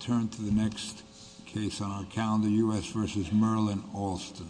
Turn to the next case on our calendar, U.S. v. Merlin Alston.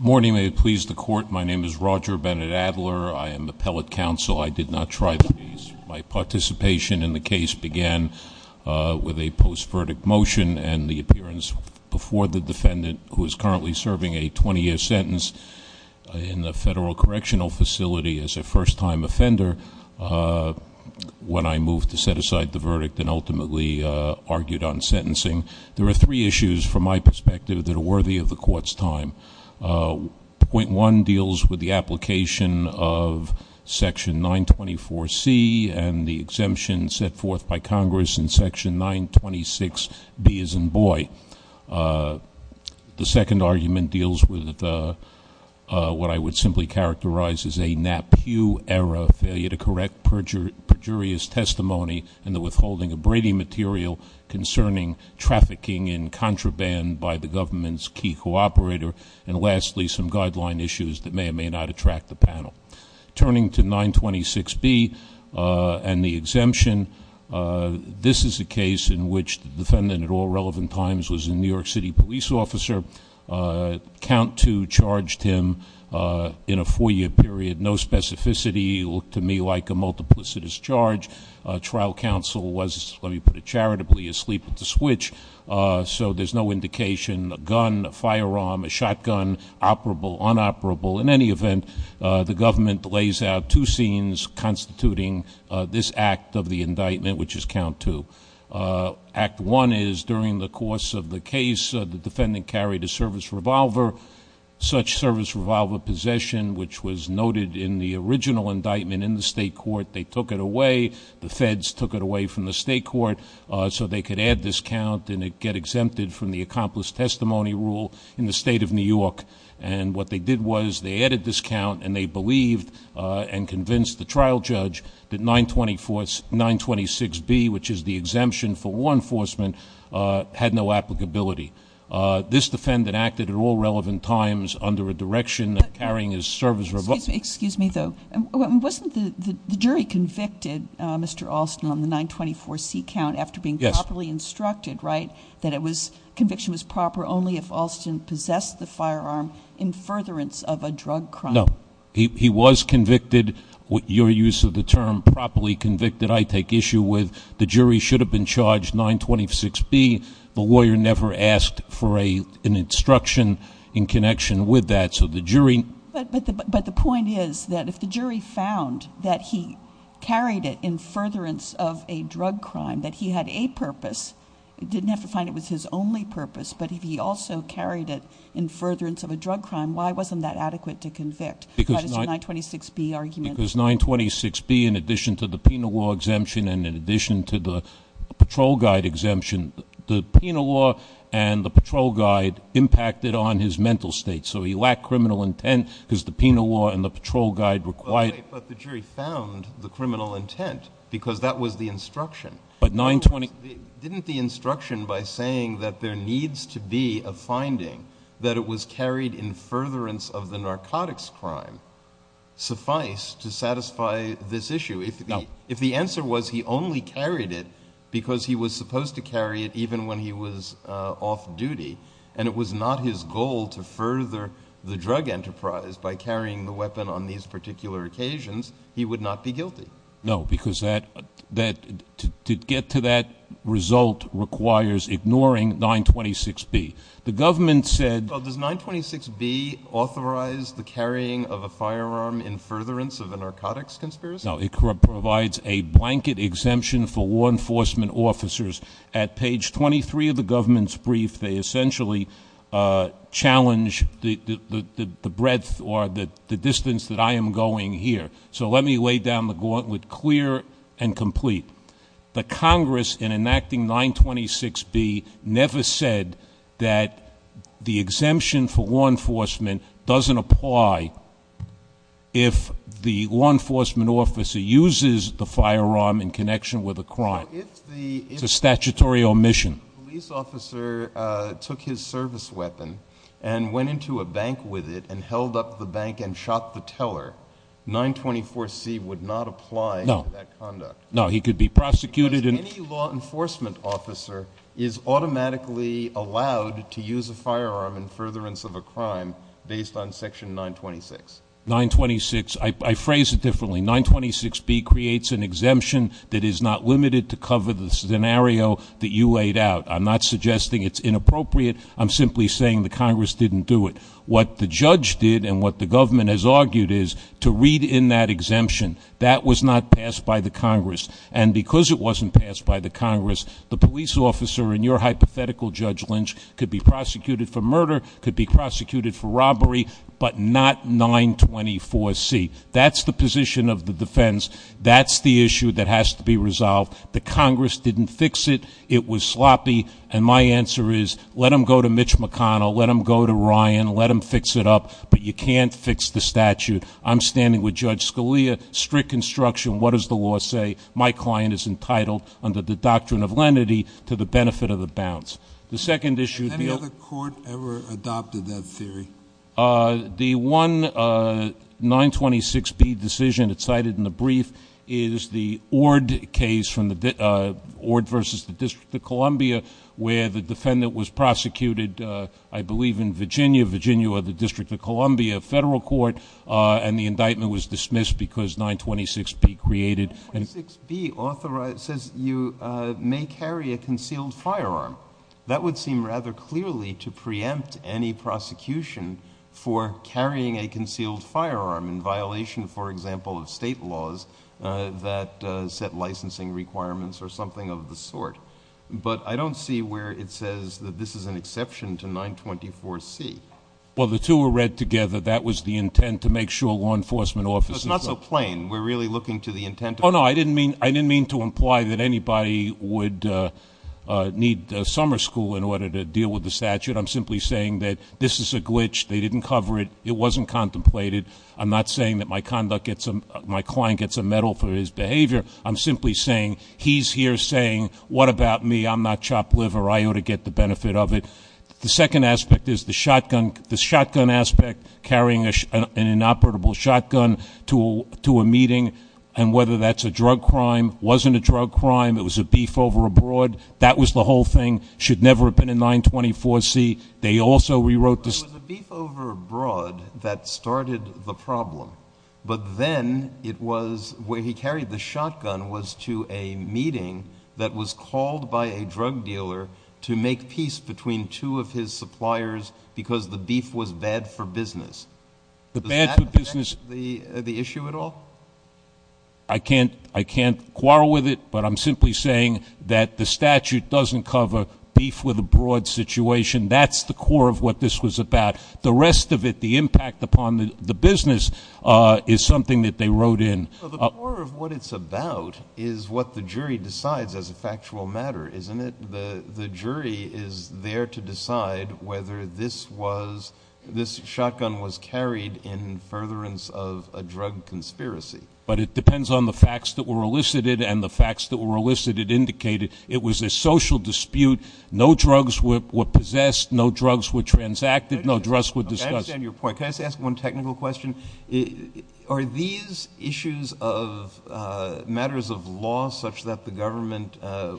Morning. May it please the Court, my name is Roger Bennett Adler. I am the Pellet Counsel. I did not try the case. My participation in the case began with a post-verdict motion and the appearance before the defendant, who is currently serving a 20-year sentence in the Federal Correctional Facility as a first-time offender, when I moved to set aside the verdict and ultimately argued on sentencing. There are three issues, from my perspective, that are worthy of the Court's time. Point No. 924C and the exemption set forth by Congress in Section 926B as in Boyd. The second argument deals with what I would simply characterize as a NAPU error, failure to correct perjurious testimony in the withholding of Brady material concerning trafficking in contraband by the government's key cooperator, and lastly, some guideline issues that may or may not attract the panel. Turning to 926B and the exemption, this is a case in which the defendant at all relevant times was a New York City police officer. Count Two charged him in a four-year period, no specificity, looked to me like a multiplicitous charge. Trial counsel was, let me put it charitably, asleep at the switch, so there's no indication, a gun, a firearm, a shotgun, operable, unoperable. In any event, the government lays out two scenes constituting this act of the indictment, which is Count Two. Act One is during the course of the case, the defendant carried a service revolver, such service revolver possession, which was noted in the original indictment in the state court. They took it away. The feds took it away from the state court so they could add this count and it get exempted from the accomplice testimony rule in the state of New York. And what they did was they added this count and they believed and convinced the trial judge that 926B, which is the exemption for law enforcement, had no applicability. This defendant acted at all relevant times under a direction of carrying his service revolver. Excuse me, though. Wasn't the jury convicted, Mr. Alston, on the 924C count after being properly instructed that conviction was proper only if Alston possessed the firearm in furtherance of a drug crime? No. He was convicted, your use of the term, properly convicted. I take issue with the jury should have been charged 926B. The lawyer never asked for an instruction in connection with that, so the jury- But the point is that if the jury found that he carried it in furtherance of a drug crime, that he had a purpose, didn't have to find it was his only purpose, but if he also carried it in furtherance of a drug crime, why wasn't that adequate to convict? That is the 926B argument. Because 926B, in addition to the penal law exemption and in addition to the patrol guide exemption, the penal law and the patrol guide impacted on his mental state, so he lacked criminal intent because the penal law and the patrol guide required- But the jury found the criminal intent because that was the instruction. But 926- Didn't the instruction by saying that there needs to be a finding that it was carried in furtherance of the narcotics crime suffice to satisfy this issue? No. If the answer was he only carried it because he was supposed to carry it even when he was off duty and it was not his goal to further the drug enterprise by carrying the weapon on these particular occasions, he would not be guilty. No, because to get to that result requires ignoring 926B. The government said- Does 926B authorize the carrying of a firearm in furtherance of a narcotics conspiracy? No, it provides a blanket exemption for law enforcement officers. At page 23 of the government's brief, they essentially challenge the breadth or the distance that I am going here. So let me lay down the gauntlet clear and complete. The Congress, in enacting 926B, never said that the exemption for law enforcement doesn't apply if the law enforcement officer uses the firearm in connection with a crime. It's a statutory omission. If the police officer took his service weapon and went into a bank with it and held up the No. No, he could be prosecuted and- Because any law enforcement officer is automatically allowed to use a firearm in furtherance of a crime based on section 926. 926, I phrase it differently. 926B creates an exemption that is not limited to cover the scenario that you laid out. I'm not suggesting it's inappropriate. I'm simply saying the Congress didn't do it. What the judge did and what the government has argued is to read in that exemption. That was not passed by the Congress. And because it wasn't passed by the Congress, the police officer, in your hypothetical, Judge Lynch, could be prosecuted for murder, could be prosecuted for robbery, but not 924C. That's the position of the defense. That's the issue that has to be resolved. The Congress didn't fix it. It was sloppy. And my answer is, let them go to Mitch McConnell. Let them go to Ryan. Let them fix it up. But you can't fix the statute. I'm standing with Judge Scalia. Strict construction. What does the law say? My client is entitled, under the doctrine of lenity, to the benefit of the bounce. The second issue- Has any other court ever adopted that theory? The one 926B decision that's cited in the brief is the Ord case from the- Ord versus the District of Columbia, where the defendant was prosecuted, I believe, in Virginia. Virginia or the District of Columbia federal court. And the indictment was dismissed because 926B created- 926B says you may carry a concealed firearm. That would seem rather clearly to preempt any prosecution for carrying a concealed firearm in violation, for example, of state laws that set licensing requirements or something of the sort. But I don't see where it says that this is an exception to 924C. Well, the two were read together. That was the intent to make sure law enforcement officers- It's not so plain. We're really looking to the intent of- Oh, no. I didn't mean to imply that anybody would need summer school in order to deal with the statute. I'm simply saying that this is a glitch. They didn't cover it. It wasn't contemplated. I'm not saying that my client gets a medal for his behavior. I'm simply saying he's here saying, what about me? I'm not chopped liver. I ought to get the benefit of it. The second aspect is the shotgun. The shotgun aspect, carrying an inoperable shotgun to a meeting and whether that's a drug crime, wasn't a drug crime, it was a beef over abroad. That was the whole thing. Should never have been in 924C. They also rewrote the- It was a beef over abroad that started the problem. But then it was where he carried the shotgun was to a meeting that was called by a drug dealer to make peace between two of his suppliers because the beef was bad for business. Does that affect the issue at all? I can't quarrel with it, but I'm simply saying that the statute doesn't cover beef with abroad situation. That's the core of what this was about. The rest of it, the impact upon the business is something that they wrote in. The core of what it's about is what the jury decides as a factual matter, isn't it? The jury is there to decide whether this shotgun was carried in furtherance of a drug conspiracy. But it depends on the facts that were elicited and the facts that were elicited indicated it was a social dispute. No drugs were possessed. No drugs were transacted. No drugs were discussed. I understand your point. Can I just ask one technical question? Are these issues of matters of law such that the government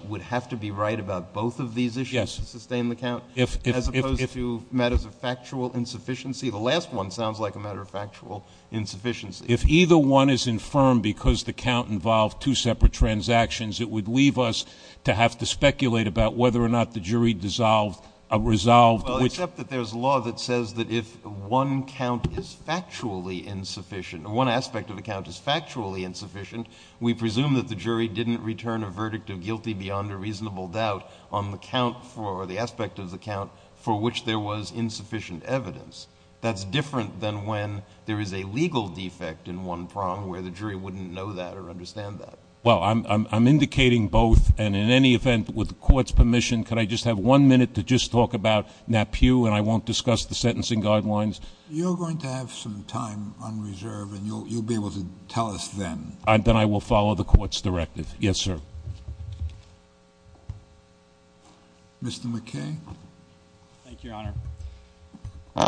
would have to be right about both of these issues to sustain the count as opposed to matters of factual insufficiency? The last one sounds like a matter of factual insufficiency. If either one is infirmed because the count involved two separate transactions, it would leave us to have to speculate about whether or not the jury resolved which- One count is factually insufficient. One aspect of the count is factually insufficient. We presume that the jury didn't return a verdict of guilty beyond a reasonable doubt on the count for the aspect of the count for which there was insufficient evidence. That's different than when there is a legal defect in one prong where the jury wouldn't know that or understand that. Well, I'm indicating both. And in any event, with the court's permission, could I just have one minute to just talk about NAPIU, and I won't discuss the sentencing guidelines? You're going to have some time on reserve, and you'll be able to tell us then. Then I will follow the court's directive. Yes, sir. Mr. McKay. Thank you, Your Honor.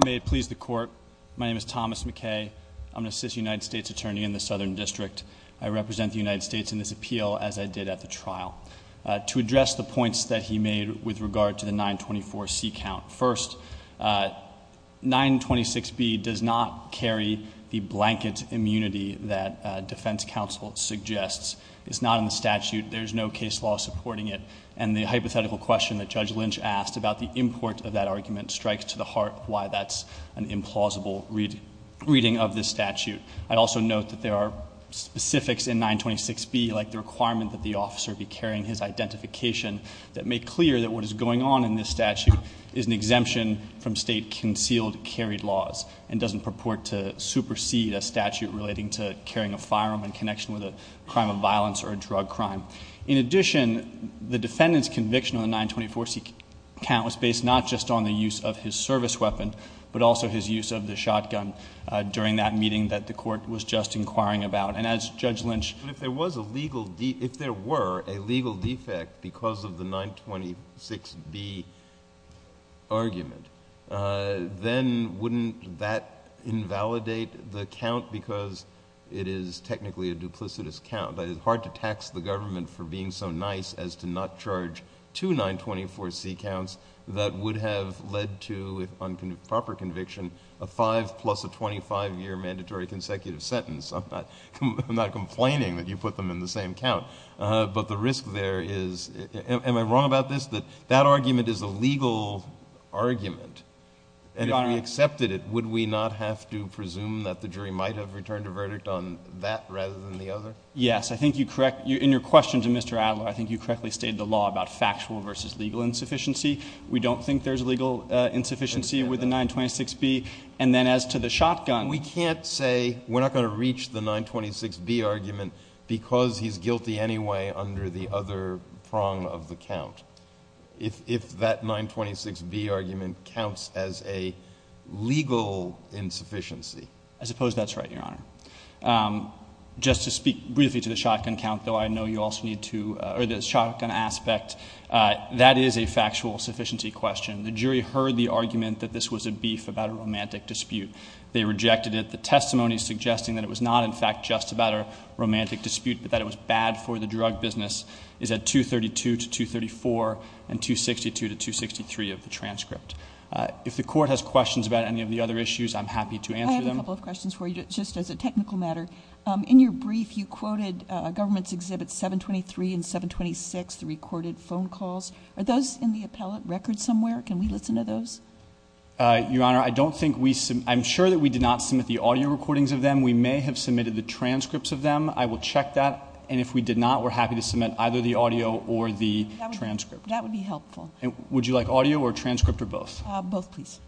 May it please the court, my name is Thomas McKay. I'm an assistant United States attorney in the Southern District. I represent the United States in this appeal as I did at the trial. To address the points that he made with regard to the 924C count, first, 926B does not carry the blanket immunity that defense counsel suggests. It's not in the statute. There's no case law supporting it. And the hypothetical question that Judge Lynch asked about the import of that argument strikes to the heart why that's an implausible reading of this statute. I'd also note that there are specifics in 926B, like the requirement that the officer be carrying his identification, that make clear that what is going on in this statute is an exemption from state concealed carry laws, and doesn't purport to supersede a statute relating to carrying a firearm in connection with a crime of violence or a drug crime. In addition, the defendant's conviction on the 924C count was based not just on the use of his service weapon, but also his use of the shotgun during that meeting that the court was just inquiring about. And as Judge Lynch— But if there was a legal—if there were a legal defect because of the 926B argument, then wouldn't that invalidate the count because it is technically a duplicitous count? It is hard to tax the government for being so nice as to not charge two 924C counts that would have led to, on proper conviction, a five-plus-a-25-year mandatory consecutive sentence. I'm not complaining that you put them in the same count, but the risk there is—am I wrong about this? That that argument is a legal argument, and if we accepted it, would we not have to presume that the jury might have returned a verdict on that rather than the other? Yes. I think you correct—in your question to Mr. Adler, I think you correctly stated the law about factual versus legal insufficiency. We don't think there's legal insufficiency with the 926B. And then as to the shotgun— We can't say we're not going to reach the 926B argument because he's guilty anyway under the other prong of the count if that 926B argument counts as a legal insufficiency. I suppose that's right, Your Honor. Just to speak briefly to the shotgun count, though, I know you also need to—or the shotgun aspect. That is a factual sufficiency question. The jury heard the argument that this was a beef about a romantic dispute. They rejected it. The testimony suggesting that it was not, in fact, just about a romantic dispute but that it was bad for the drug business is at 232 to 234 and 262 to 263 of the transcript. If the Court has questions about any of the other issues, I'm happy to answer them. I have a couple of questions for you, just as a technical matter. In your brief, you give us 723 and 726, the recorded phone calls. Are those in the appellate record somewhere? Can we listen to those? Your Honor, I don't think we—I'm sure that we did not submit the audio recordings of them. We may have submitted the transcripts of them. I will check that. And if we did not, we're happy to submit either the audio or the transcript. That would be helpful. Would you like audio or transcript or both? Both, please.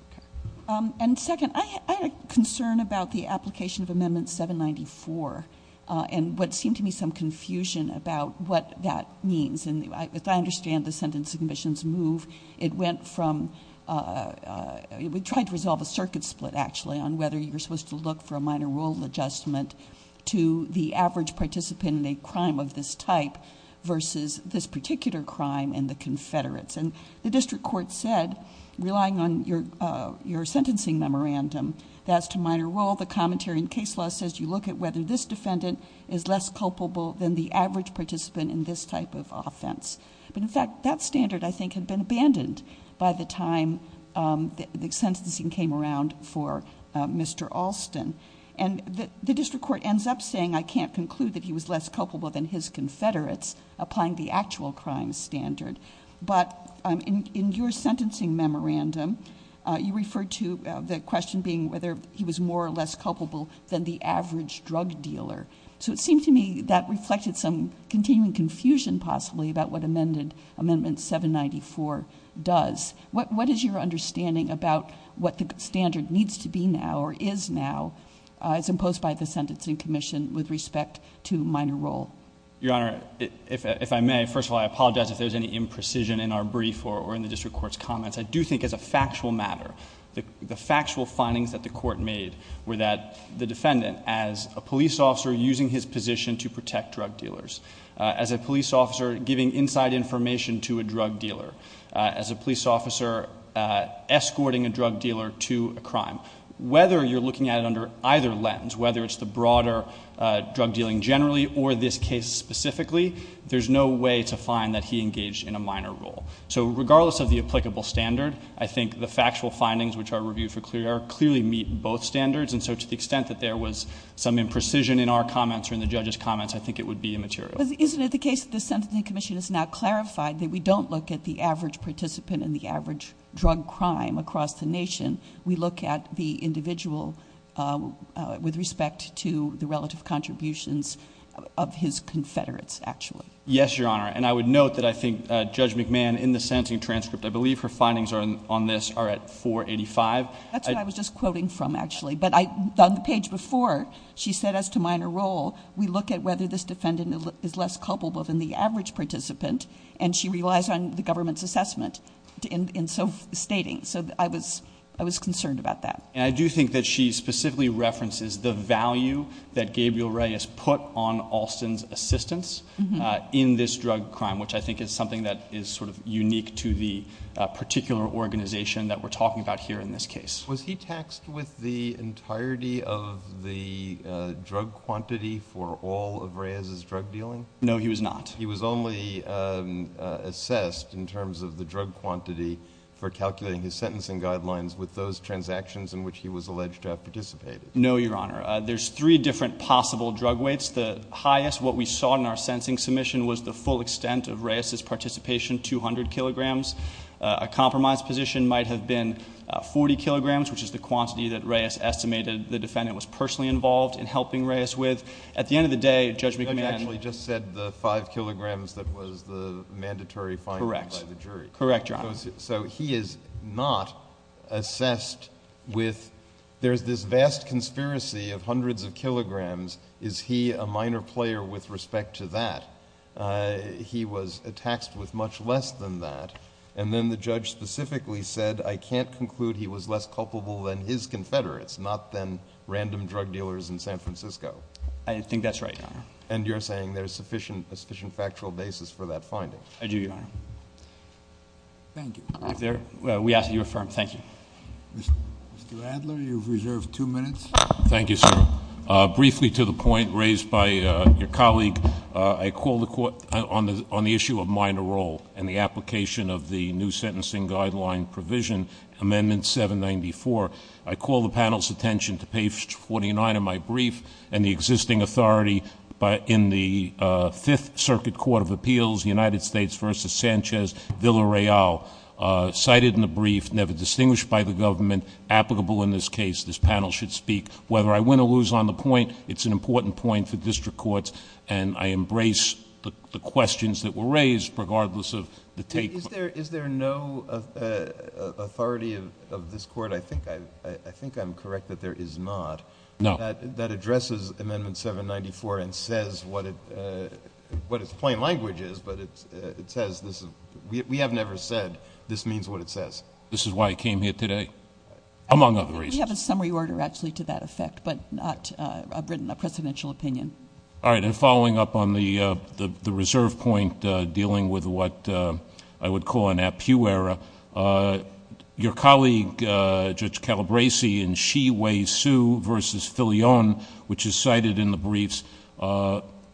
Okay. And second, I had a concern about the application of Amendment 794 and what seemed to me some confusion about what that means. And as I understand the Sentencing Commission's move, it went from—it tried to resolve a circuit split, actually, on whether you're supposed to look for a minor rule adjustment to the average participant in a crime of this type versus this particular crime and the Confederates. And the District Court said, relying on your sentencing memorandum, that as to minor rule, the commentary in case law says you look at whether this defendant is less culpable than the average participant in this type of offense. But in fact, that standard, I think, had been abandoned by the time the sentencing came around for Mr. Alston. And the District Court ends up saying, I can't conclude that he was less culpable than his Confederates, applying the actual crime standard. But in your sentencing memorandum, you referred to the question being whether he was more or less culpable than the average drug dealer. So it seemed to me that reflected some continuing confusion, possibly, about what Amendment 794 does. What is your understanding about what the standard needs to be now or is now as imposed by the Sentencing Commission with respect to minor rule? Your Honor, if I may, first of all, I apologize if there's any imprecision in our brief or in the District Court's comments. I do think as a factual matter, the factual findings that the Court made were that the defendant, as a police officer using his position to protect drug dealers, as a police officer giving inside information to a drug dealer, as a police officer escorting a drug dealer to a crime, whether you're looking at it under either lens, whether it's the broader drug dealing generally or this case specifically, there's no way to find that he engaged in a minor rule. So regardless of the applicable standard, I think the factual findings which are reviewed for clear error clearly meet both standards. And so to the extent that there was some imprecision in our comments or in the judge's comments, I think it would be immaterial. But isn't it the case that the Sentencing Commission has now clarified that we don't look at the average participant in the average drug crime across the nation, we look at the individual with respect to the relative contributions of his confederates, actually? Yes, Your Honor. And I would note that I think Judge McMahon, in the sentencing transcript, I believe her findings on this are at 485. That's what I was just quoting from, actually. But on the page before, she said as to minor rule, we look at whether this defendant is less culpable than the average participant, and she relies on the government's assessment in so stating. So I was concerned about that. And I do think that she specifically references the value that Gabriel Reyes put on Alston's assistance in this drug crime, which I think is something that is sort of unique to the particular organization that we're talking about here in this case. Was he taxed with the entirety of the drug quantity for all of Reyes's drug dealing? No, he was not. He was only assessed in terms of the drug quantity for calculating his sentencing guidelines No, Your Honor. There's three different possible drug weights. The highest, what we saw in our sentencing submission, was the full extent of Reyes's participation, 200 kilograms. A compromised position might have been 40 kilograms, which is the quantity that Reyes estimated the defendant was personally involved in helping Reyes with. At the end of the day, Judge McMahon Judge actually just said the 5 kilograms that was the mandatory finding by the jury. Correct. Correct, Your Honor. So he is not assessed with, there's this vast conspiracy of hundreds of kilograms. Is he a minor player with respect to that? He was taxed with much less than that. And then the judge specifically said, I can't conclude he was less culpable than his confederates, not than random drug dealers in San Francisco. I think that's right, Your Honor. And you're saying there's sufficient factual basis for that finding? I do, Your Honor. Thank you. Well, we ask that you affirm. Thank you. Mr. Adler, you've reserved two minutes. Thank you, sir. Briefly to the point raised by your colleague, I call the court on the issue of minor role and the application of the new sentencing guideline provision, Amendment 794. I call the panel's attention to page 49 of my brief and the existing authority in the Fifth Circuit Court of Appeals, United States v. Sanchez, Villa-Real. Cited in the brief, never distinguished by the government, applicable in this case, this panel should speak. Whether I win or lose on the point, it's an important point for district courts, and I embrace the questions that were raised, regardless of the take. Is there no authority of this court? I think I'm correct that there is not. That addresses Amendment 794 and says what its plain language is, but it says, we have never said, this means what it says. This is why I came here today? Among other reasons. We have a summary order, actually, to that effect, but not a presidential opinion. All right. And following up on the reserve point dealing with what I would call an at-pew era, your colleague, Judge Calabresi, in Xi-Wei Su v. Filion, which is cited in the briefs,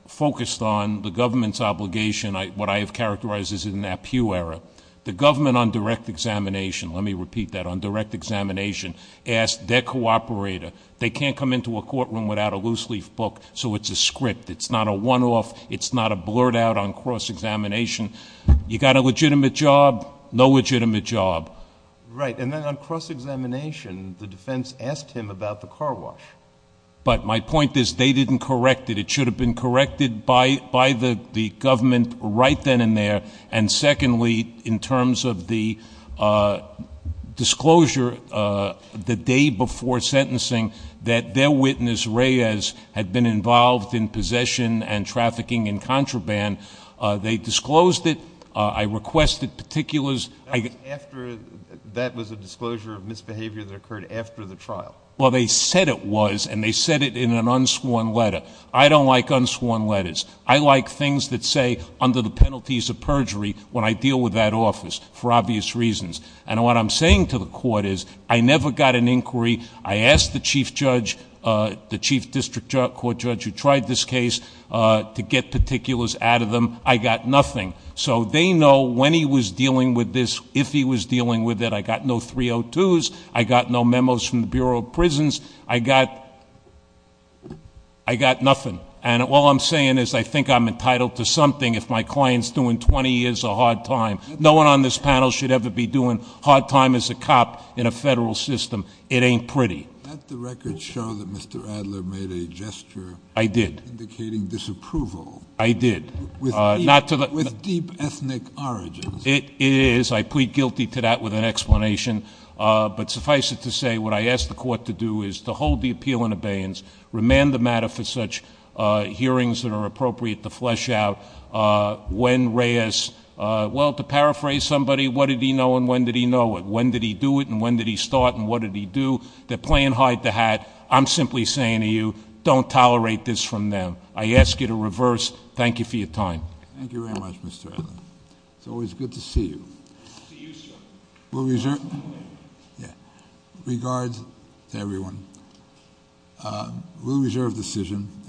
focused on the government's obligation, what I have characterized as an at-pew era. The government on direct examination, let me repeat that, on direct examination, asked their cooperator, they can't come into a courtroom without a loose-leaf book, so it's a script. It's not a one-off. It's not a blurt out on cross-examination. You got a legitimate job, no legitimate job. Right. And then on cross-examination, the defense asked him about the car wash. But my point is, they didn't correct it. It should have been corrected by the government right then and there. And secondly, in terms of the disclosure the day before sentencing that their witness, Reyes, had been involved in possession and trafficking and contraband, they disclosed it. I requested particulars. That was a disclosure of misbehavior that occurred after the trial. Well, they said it was, and they said it in an unsworn letter. I don't like unsworn letters. I like things that say, under the penalties of perjury, when I deal with that office, for obvious reasons. And what I'm saying to the court is, I never got an inquiry. I asked the chief judge, the chief district court judge who tried this case, to get particulars out of them. I got nothing. So they know when he was dealing with this, if he was dealing with it. I got no 302s. I got no memos from the Bureau of Prisons. I got nothing. And all I'm saying is, I think I'm entitled to something if my client's doing 20 years a hard time. No one on this panel should ever be doing hard time as a cop in a federal system. It ain't pretty. Did the records show that Mr. Adler made a gesture indicating disapproval? I did. With deep ethnic origins. It is. I plead guilty to that with an explanation. But suffice it to say, what I asked the court to do is to hold the appeal in abeyance, remand the matter for such hearings that are appropriate to flesh out when Reyes, well, to paraphrase somebody, what did he know and when did he know it? When did he do it and when did he start and what did he do? They're playing hide the hat. I'm simply saying to you, don't tolerate this from them. I ask you to reverse. Thank you for your time. Thank you very much, Mr. Adler. It's always good to see you. Good to see you, sir. We'll reserve. Yeah. Regards to everyone. We'll reserve decision.